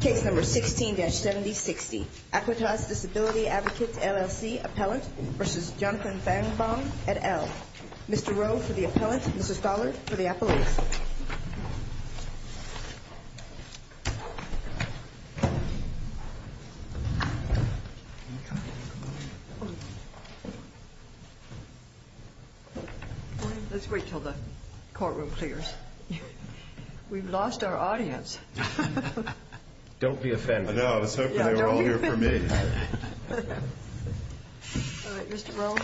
Case No. 16-7060. Aquitas Disability Advocates LLC Appellant v. Jonathan Feigenbaum et al. Mr. Rowe for the Appellant, Mr. Stoller for the Appellant. Let's wait until the courtroom clears. We've lost our audience. Don't be offended. I know, I was hoping they were all here for me. Alright, Mr. Rowe.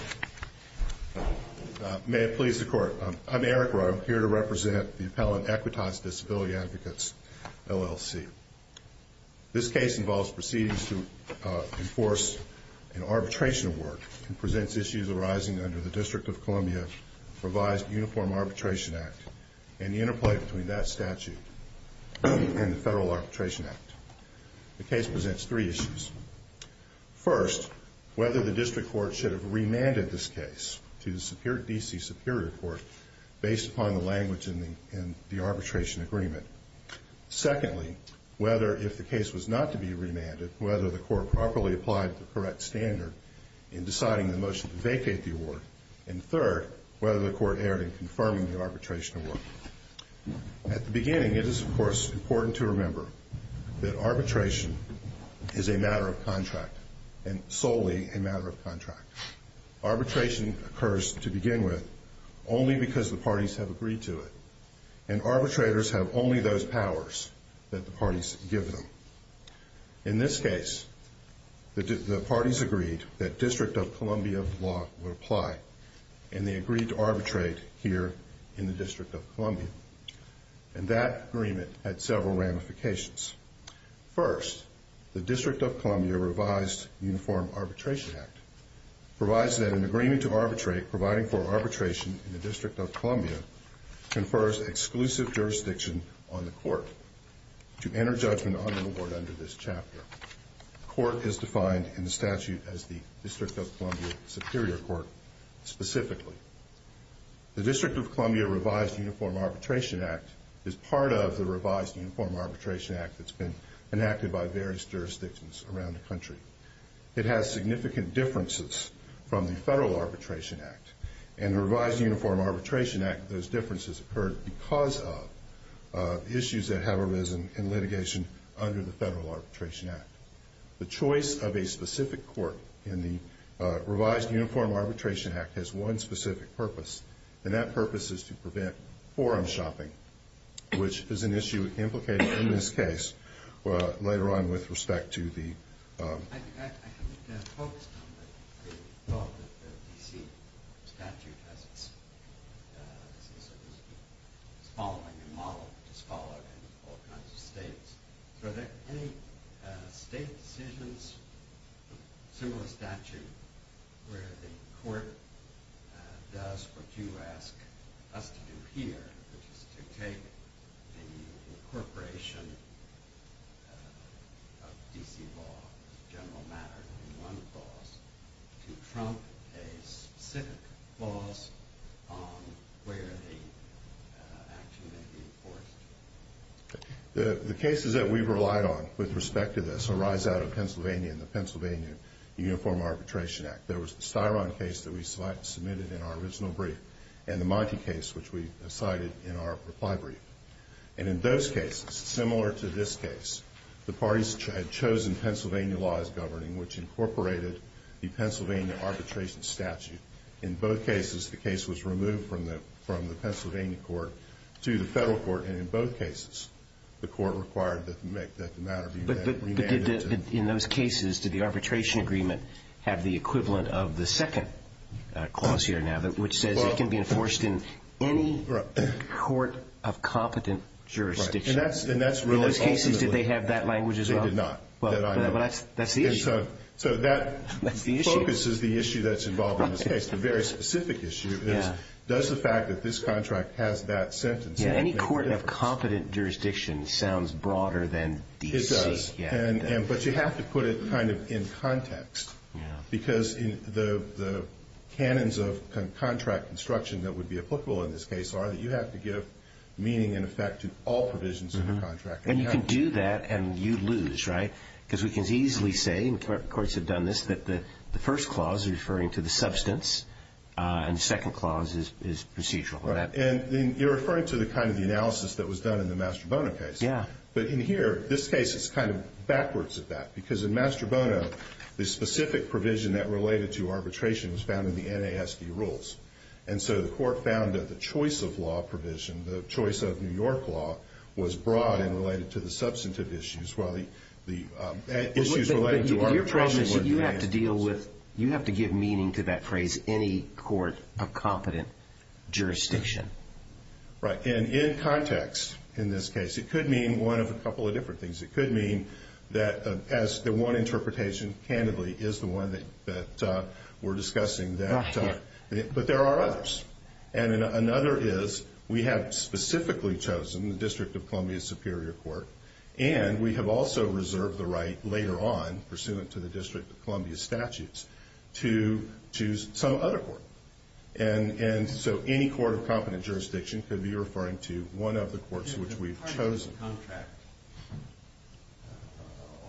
May it please the Court. I'm Eric Rowe. I'm here to represent the Appellant, Aquitas Disability Advocates, LLC. This case involves proceedings to enforce an arbitration award and presents issues arising under the District of Columbia revised Uniform Arbitration Act and the interplay between that statute and the Federal Arbitration Act. The case presents three issues. First, whether the District Court should have remanded this case to the D.C. Superior Court based upon the language in the arbitration agreement. Secondly, whether if the case was not to be remanded, whether the Court properly applied the correct standard in deciding the motion to vacate the award. And third, whether the Court erred in confirming the arbitration award. At the beginning, it is, of course, important to remember that arbitration is a matter of contract and solely a matter of contract. Arbitration occurs, to begin with, only because the parties have agreed to it and arbitrators have only those powers that the parties give them. In this case, the parties agreed that District of Columbia law would apply and they agreed to arbitrate here in the District of Columbia. And that agreement had several ramifications. First, the District of Columbia revised Uniform Arbitration Act provides that an agreement to arbitrate providing for arbitration in the District of Columbia confers exclusive jurisdiction on the Court to enter judgment on the award under this chapter. The Court is defined in the statute as the District of Columbia Superior Court, specifically. The District of Columbia revised Uniform Arbitration Act is part of the revised Uniform Arbitration Act that's been enacted by various jurisdictions around the country. It has significant differences from the Federal Arbitration Act, and the revised Uniform Arbitration Act, those differences occurred because of issues that have arisen in litigation under the Federal Arbitration Act. The choice of a specific court in the revised Uniform Arbitration Act has one specific purpose, and that purpose is to prevent forum shopping, which is an issue implicated in this case later on with respect to the... I haven't focused on that. I thought that the D.C. statute has its following and model, which is followed in all kinds of states. So are there any state decisions, similar statute, where the court does what you ask us to do here, which is to take the incorporation of D.C. law as a general matter in one clause to trump a specific clause on where the action may be enforced? The cases that we relied on with respect to this arise out of Pennsylvania and the Pennsylvania Uniform Arbitration Act. There was the Styron case that we submitted in our original brief, and the Monty case, which we cited in our reply brief. And in those cases, similar to this case, the parties had chosen Pennsylvania law as governing, which incorporated the Pennsylvania arbitration statute. In both cases, the case was removed from the Pennsylvania court to the Federal court, and in both cases the court required that the matter be remanded to... But in those cases, did the arbitration agreement have the equivalent of the second clause here now, which says it can be enforced in any court of competent jurisdiction? In those cases, did they have that language as well? They did not. But that's the issue. So that focuses the issue that's involved in this case. The very specific issue is, does the fact that this contract has that sentence... Any court of competent jurisdiction sounds broader than D.C. It does, but you have to put it kind of in context because the canons of contract construction that would be applicable in this case are that you have to give meaning and effect to all provisions of the contract. And you can do that and you lose, right? Because we can easily say, and courts have done this, that the first clause is referring to the substance and the second clause is procedural. And you're referring to the kind of analysis that was done in the Mastrobono case. But in here, this case is kind of backwards at that because in Mastrobono, the specific provision that related to arbitration was found in the NASD rules. And so the court found that the choice of law provision, the choice of New York law, was broad and related to the substantive issues while the issues related to arbitration were in the NASD rules. But your problem is that you have to deal with, you have to give meaning to that phrase, any court of competent jurisdiction. Right. And in context, in this case, it could mean one of a couple of different things. It could mean that as the one interpretation, candidly, is the one that we're discussing. Right. But there are others. And another is we have specifically chosen the District of Columbia Superior Court and we have also reserved the right later on, pursuant to the District of Columbia statutes, to choose some other court. And so any court of competent jurisdiction could be referring to one of the courts which we've chosen. Does the contract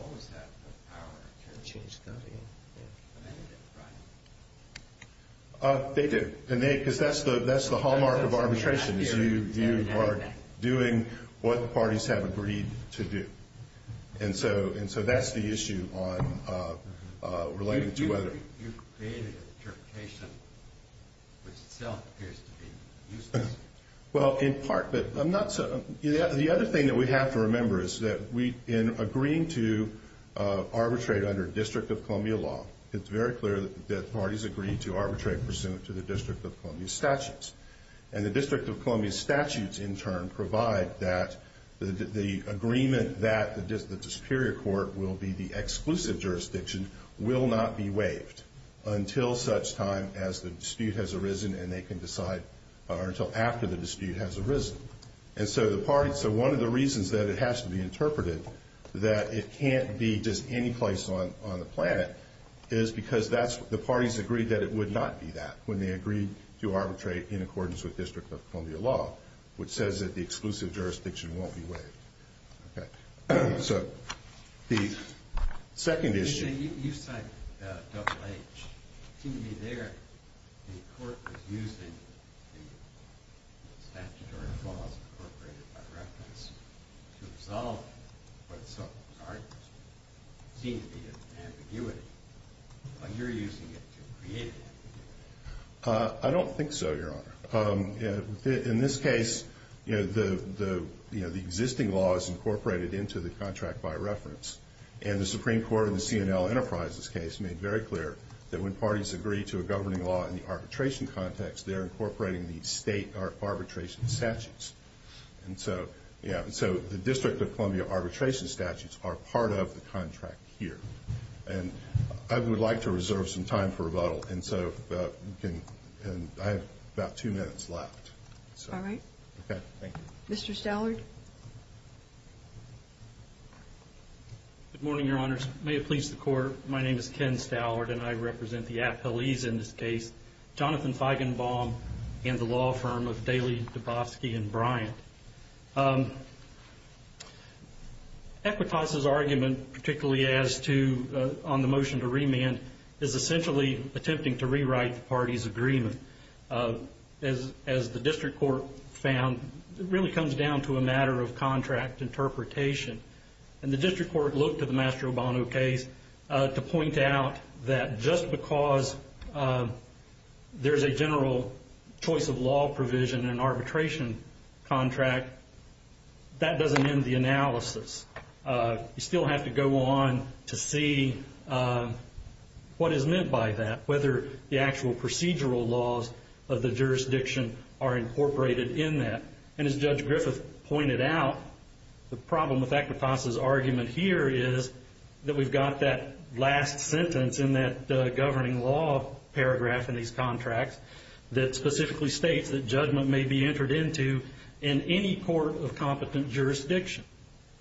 always have the power to change custody? They do. Because that's the hallmark of arbitration is you are doing what the parties have agreed to do. And so that's the issue on relating to whether. You've created an interpretation which itself appears to be useless. Well, in part. The other thing that we have to remember is that in agreeing to arbitrate under District of Columbia law, it's very clear that parties agree to arbitrate pursuant to the District of Columbia statutes. And the District of Columbia statutes, in turn, provide that the agreement that the Superior Court will be the exclusive jurisdiction and they can decide until after the dispute has arisen. And so one of the reasons that it has to be interpreted that it can't be just any place on the planet is because the parties agreed that it would not be that when they agreed to arbitrate in accordance with District of Columbia law, which says that the exclusive jurisdiction won't be waived. Okay. So the second issue. You cite double H. It seemed to me there the court was using the statutory clause incorporated by reference to resolve what in some regards seemed to be an ambiguity. But you're using it to create ambiguity. I don't think so, Your Honor. In this case, the existing law is incorporated into the contract by reference. And the Supreme Court in the C&L Enterprises case made very clear that when parties agree to a governing law in the arbitration context, they're incorporating the state arbitration statutes. And so the District of Columbia arbitration statutes are part of the contract here. And I would like to reserve some time for rebuttal. And so I have about two minutes left. All right. Okay. Thank you. Mr. Stallard. Good morning, Your Honors. May it please the Court, my name is Ken Stallard, and I represent the appellees in this case, Jonathan Feigenbaum and the law firm of Daley, Dubofsky, and Bryant. Equitas' argument, particularly on the motion to remand, is essentially attempting to rewrite the parties' agreement. As the District Court found, it really comes down to a matter of contract interpretation. And the District Court looked at the Mastro Bono case to point out that just because there's a general choice of law provision in an arbitration contract, that doesn't end the analysis. You still have to go on to see what is meant by that, whether the actual procedural laws of the jurisdiction are incorporated in that. And as Judge Griffith pointed out, the problem with Equitas' argument here is that we've got that last sentence in that governing law paragraph in these contracts that specifically states that judgment may be entered into in any court of competent jurisdiction.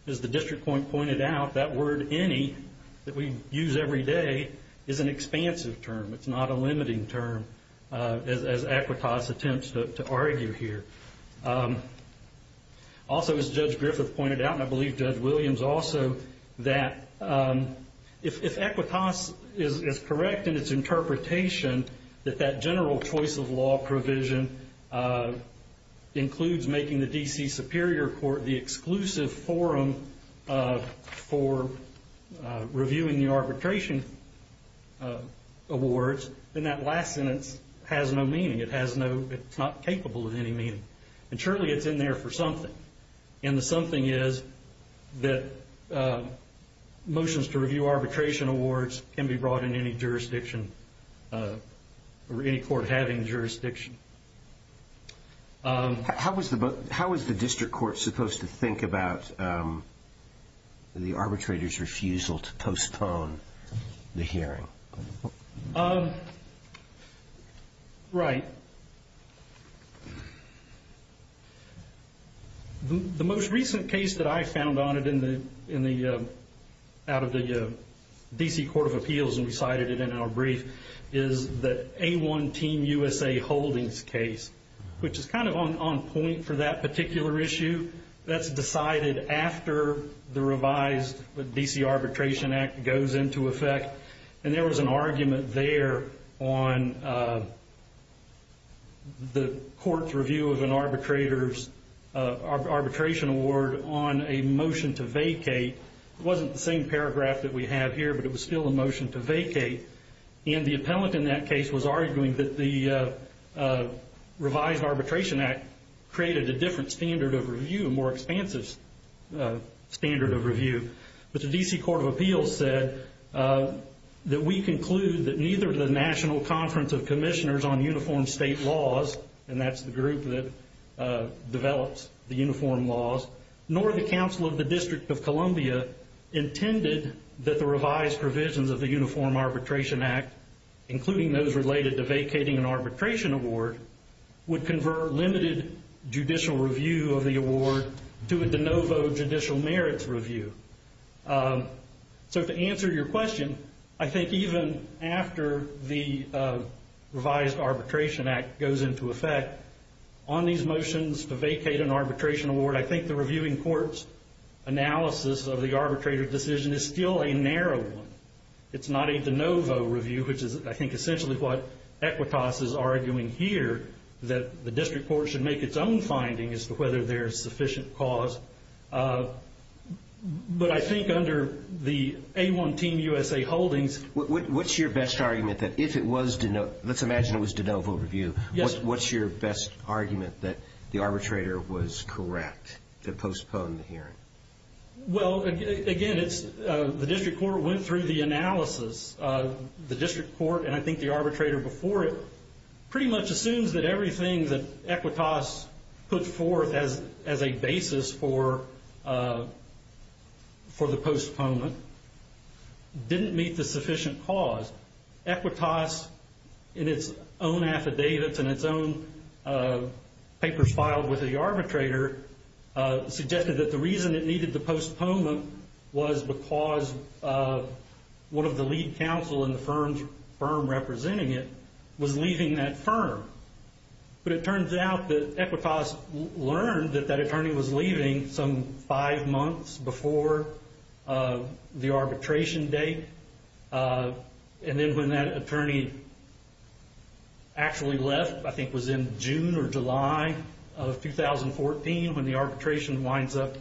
As the District Court pointed out, that word any that we use every day is an expansive term. It's not a limiting term, as Equitas attempts to argue here. Also, as Judge Griffith pointed out, and I believe Judge Williams also, that if Equitas is correct in its interpretation, that that general choice of law provision includes making the D.C. Superior Court the exclusive forum for reviewing the arbitration awards, then that last sentence has no meaning. It's not capable of any meaning. And surely it's in there for something. And the something is that motions to review arbitration awards can be brought in any jurisdiction or any court having jurisdiction. How was the District Court supposed to think about the arbitrator's refusal to postpone the hearing? Right. The most recent case that I found out of the D.C. Court of Appeals, and we cited it in our brief, is the A1 Team USA Holdings case, which is kind of on point for that particular issue. That's decided after the revised D.C. Arbitration Act goes into effect. And there was an argument there on the court's review of an arbitrator's arbitration award on a motion to vacate. It wasn't the same paragraph that we have here, but it was still a motion to vacate. And the appellant in that case was arguing that the revised Arbitration Act created a different standard of review, a more expansive standard of review. But the D.C. Court of Appeals said that we conclude that neither the National Conference of Commissioners on Uniform State Laws, and that's the group that develops the uniform laws, nor the Council of the District of Columbia intended that the revised provisions of the Uniform Arbitration Act, including those related to vacating an arbitration award, would convert limited judicial review of the award to a de novo judicial merits review. So to answer your question, I think even after the revised Arbitration Act goes into effect, on these motions to vacate an arbitration award, I think the reviewing court's analysis of the arbitrator's decision is still a narrow one. It's not a de novo review, which is, I think, essentially what Equitas is arguing here, that the district court should make its own finding as to whether there is sufficient cause. But I think under the A1 Team USA holdings. What's your best argument that if it was de novo, let's imagine it was de novo review, what's your best argument that the arbitrator was correct to postpone the hearing? Well, again, the district court went through the analysis. The district court, and I think the arbitrator before it, pretty much assumes that everything that Equitas put forth as a basis for the postponement didn't meet the sufficient cause. Equitas, in its own affidavits and its own papers filed with the arbitrator, suggested that the reason it needed the postponement was because one of the lead counsel in the firm representing it was leaving that firm. But it turns out that Equitas learned that that attorney was leaving some five months before the arbitration date. And then when that attorney actually left, I think it was in June or July of 2014, when the arbitration winds up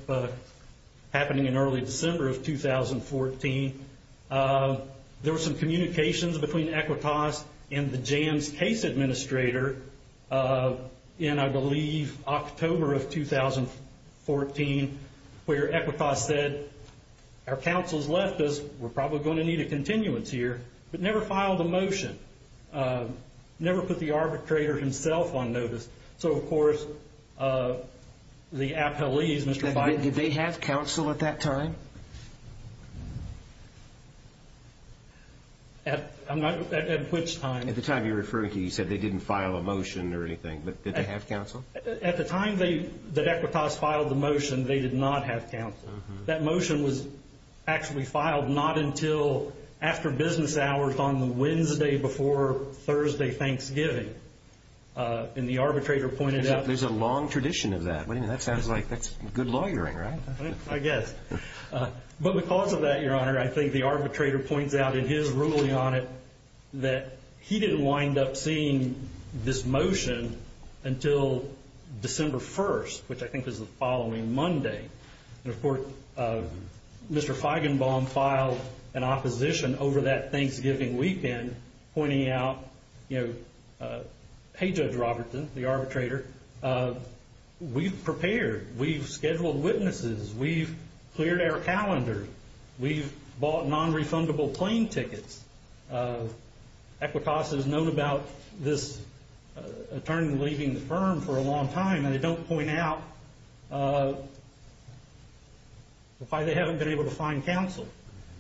happening in early December of 2014, there were some communications between Equitas and the Jams case administrator in, I believe, October of 2014, where Equitas said, Our counsel's left us. We're probably going to need a continuance here. But never filed a motion. Never put the arbitrator himself on notice. So, of course, the appellees, Mr. Biden... Did they have counsel at that time? At which time? At the time you're referring to, you said they didn't file a motion or anything, but did they have counsel? At the time that Equitas filed the motion, they did not have counsel. That motion was actually filed not until after business hours on the Wednesday before Thursday Thanksgiving. And the arbitrator pointed out... There's a long tradition of that. That sounds like good lawyering, right? I guess. But because of that, Your Honor, I think the arbitrator points out in his ruling on it that he didn't wind up seeing this motion until December 1st, which I think was the following Monday. And, of course, Mr. Feigenbaum filed an opposition over that Thanksgiving weekend pointing out, you know, hey, Judge Robertson, the arbitrator, we've prepared. We've scheduled witnesses. We've cleared our calendar. We've bought nonrefundable plane tickets. Equitas has known about this attorney leaving the firm for a long time, and they don't point out why they haven't been able to find counsel.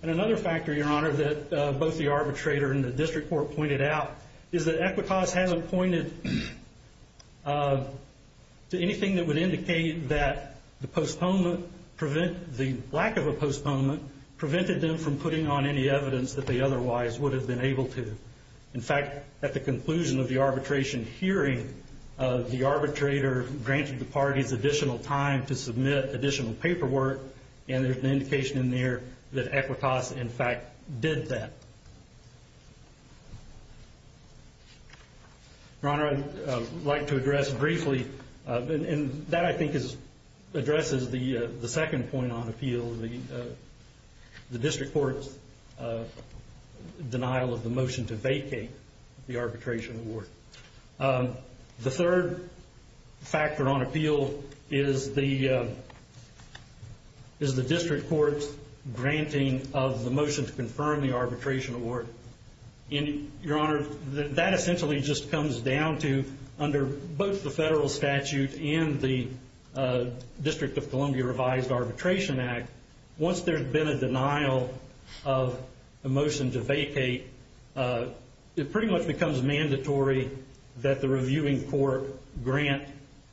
And another factor, Your Honor, that both the arbitrator and the district court pointed out is that Equitas hasn't pointed to anything that would indicate that the lack of a postponement prevented them from putting on any evidence that they otherwise would have been able to. In fact, at the conclusion of the arbitration hearing, the arbitrator granted the parties additional time to submit additional paperwork, and there's an indication in there that Equitas, in fact, did that. Your Honor, I'd like to address briefly, and that, I think, addresses the second point on appeal, the district court's denial of the motion to vacate the arbitration award. The third factor on appeal is the district court's granting of the motion to confirm the arbitration award. Your Honor, that essentially just comes down to, under both the federal statute and the District of Columbia Revised Arbitration Act, once there's been a denial of a motion to vacate, it pretty much becomes mandatory that the reviewing court grant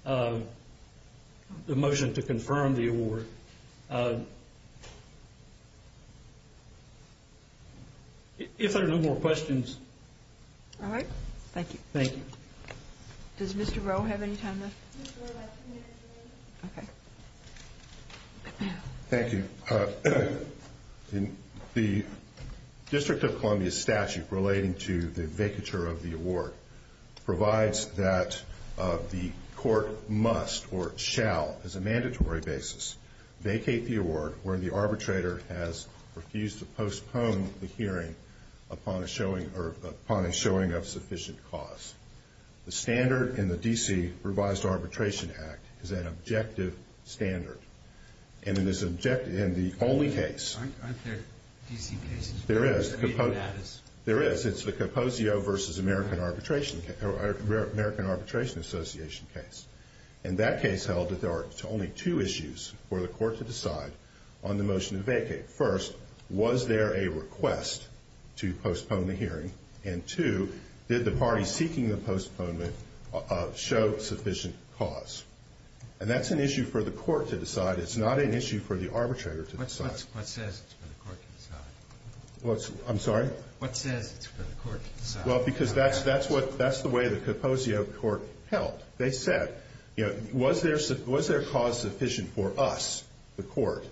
the motion to confirm the award. If there are no more questions. All right. Thank you. Thank you. Does Mr. Rowe have any time left? Okay. Thank you. The District of Columbia statute relating to the vacature of the award provides that the court must or shall, as a mandatory basis, vacate the award when the arbitrator has refused to postpone the hearing upon a showing of sufficient cause. The standard in the D.C. Revised Arbitration Act is an objective standard, and it is objective in the only case. Aren't there D.C. cases? There is. There is. It's the Composio v. American Arbitration Association case. And that case held that there are only two issues for the court to decide on the motion to vacate. First, was there a request to postpone the hearing? And two, did the party seeking the postponement show sufficient cause? And that's an issue for the court to decide. It's not an issue for the arbitrator to decide. What says it's for the court to decide? I'm sorry? What says it's for the court to decide? Well, because that's the way the Composio court held. They said, you know, was there cause sufficient for us, the court,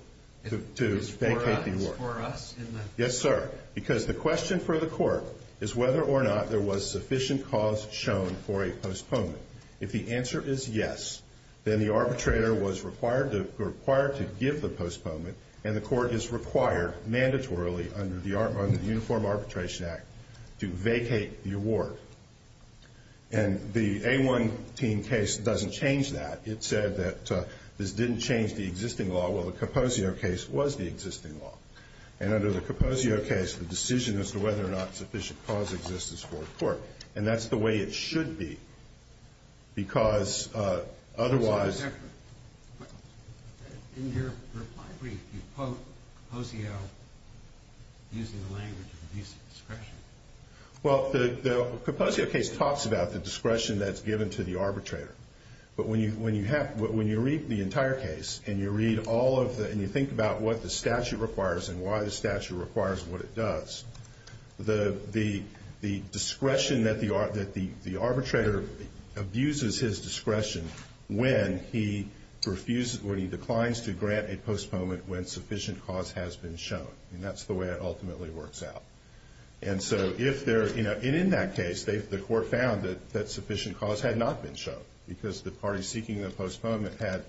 to vacate the award? For us? Yes, sir. Because the question for the court is whether or not there was sufficient cause shown for a postponement. If the answer is yes, then the arbitrator was required to give the postponement, and the court is required mandatorily under the Uniform Arbitration Act to vacate the award. And the A-1 team case doesn't change that. It said that this didn't change the existing law. Well, the Composio case was the existing law. And under the Composio case, the decision as to whether or not sufficient cause exists is for the court. And that's the way it should be, because otherwise- In your reply brief, you quote Composio using the language of abuse of discretion. Well, the Composio case talks about the discretion that's given to the arbitrator. But when you read the entire case and you think about what the statute requires and why the statute requires what it does, the discretion that the arbitrator abuses his discretion when he declines to grant a postponement when sufficient cause has been shown. And that's the way it ultimately works out. And so if there's- And in that case, the court found that sufficient cause had not been shown because the party seeking the postponement had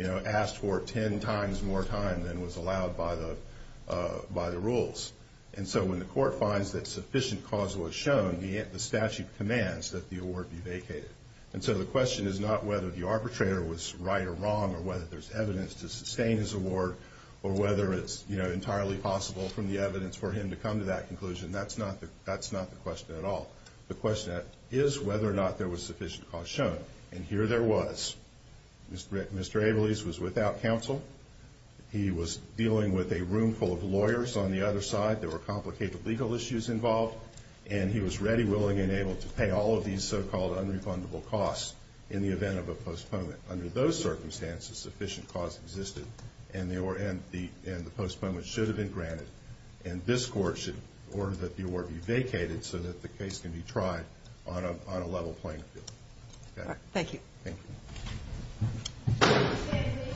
asked for 10 times more time than was allowed by the rules. And so when the court finds that sufficient cause was shown, the statute commands that the award be vacated. And so the question is not whether the arbitrator was right or wrong or whether there's evidence to sustain his award or whether it's entirely possible from the evidence for him to come to that conclusion. That's not the question at all. The question is whether or not there was sufficient cause shown. And here there was. Mr. Abeles was without counsel. He was dealing with a room full of lawyers on the other side. There were complicated legal issues involved. And he was ready, willing, and able to pay all of these so-called unrefundable costs in the event of a postponement. Under those circumstances, sufficient cause existed and the postponement should have been granted. And this court should order that the award be vacated so that the case can be tried on a level playing field. Thank you. Thank you.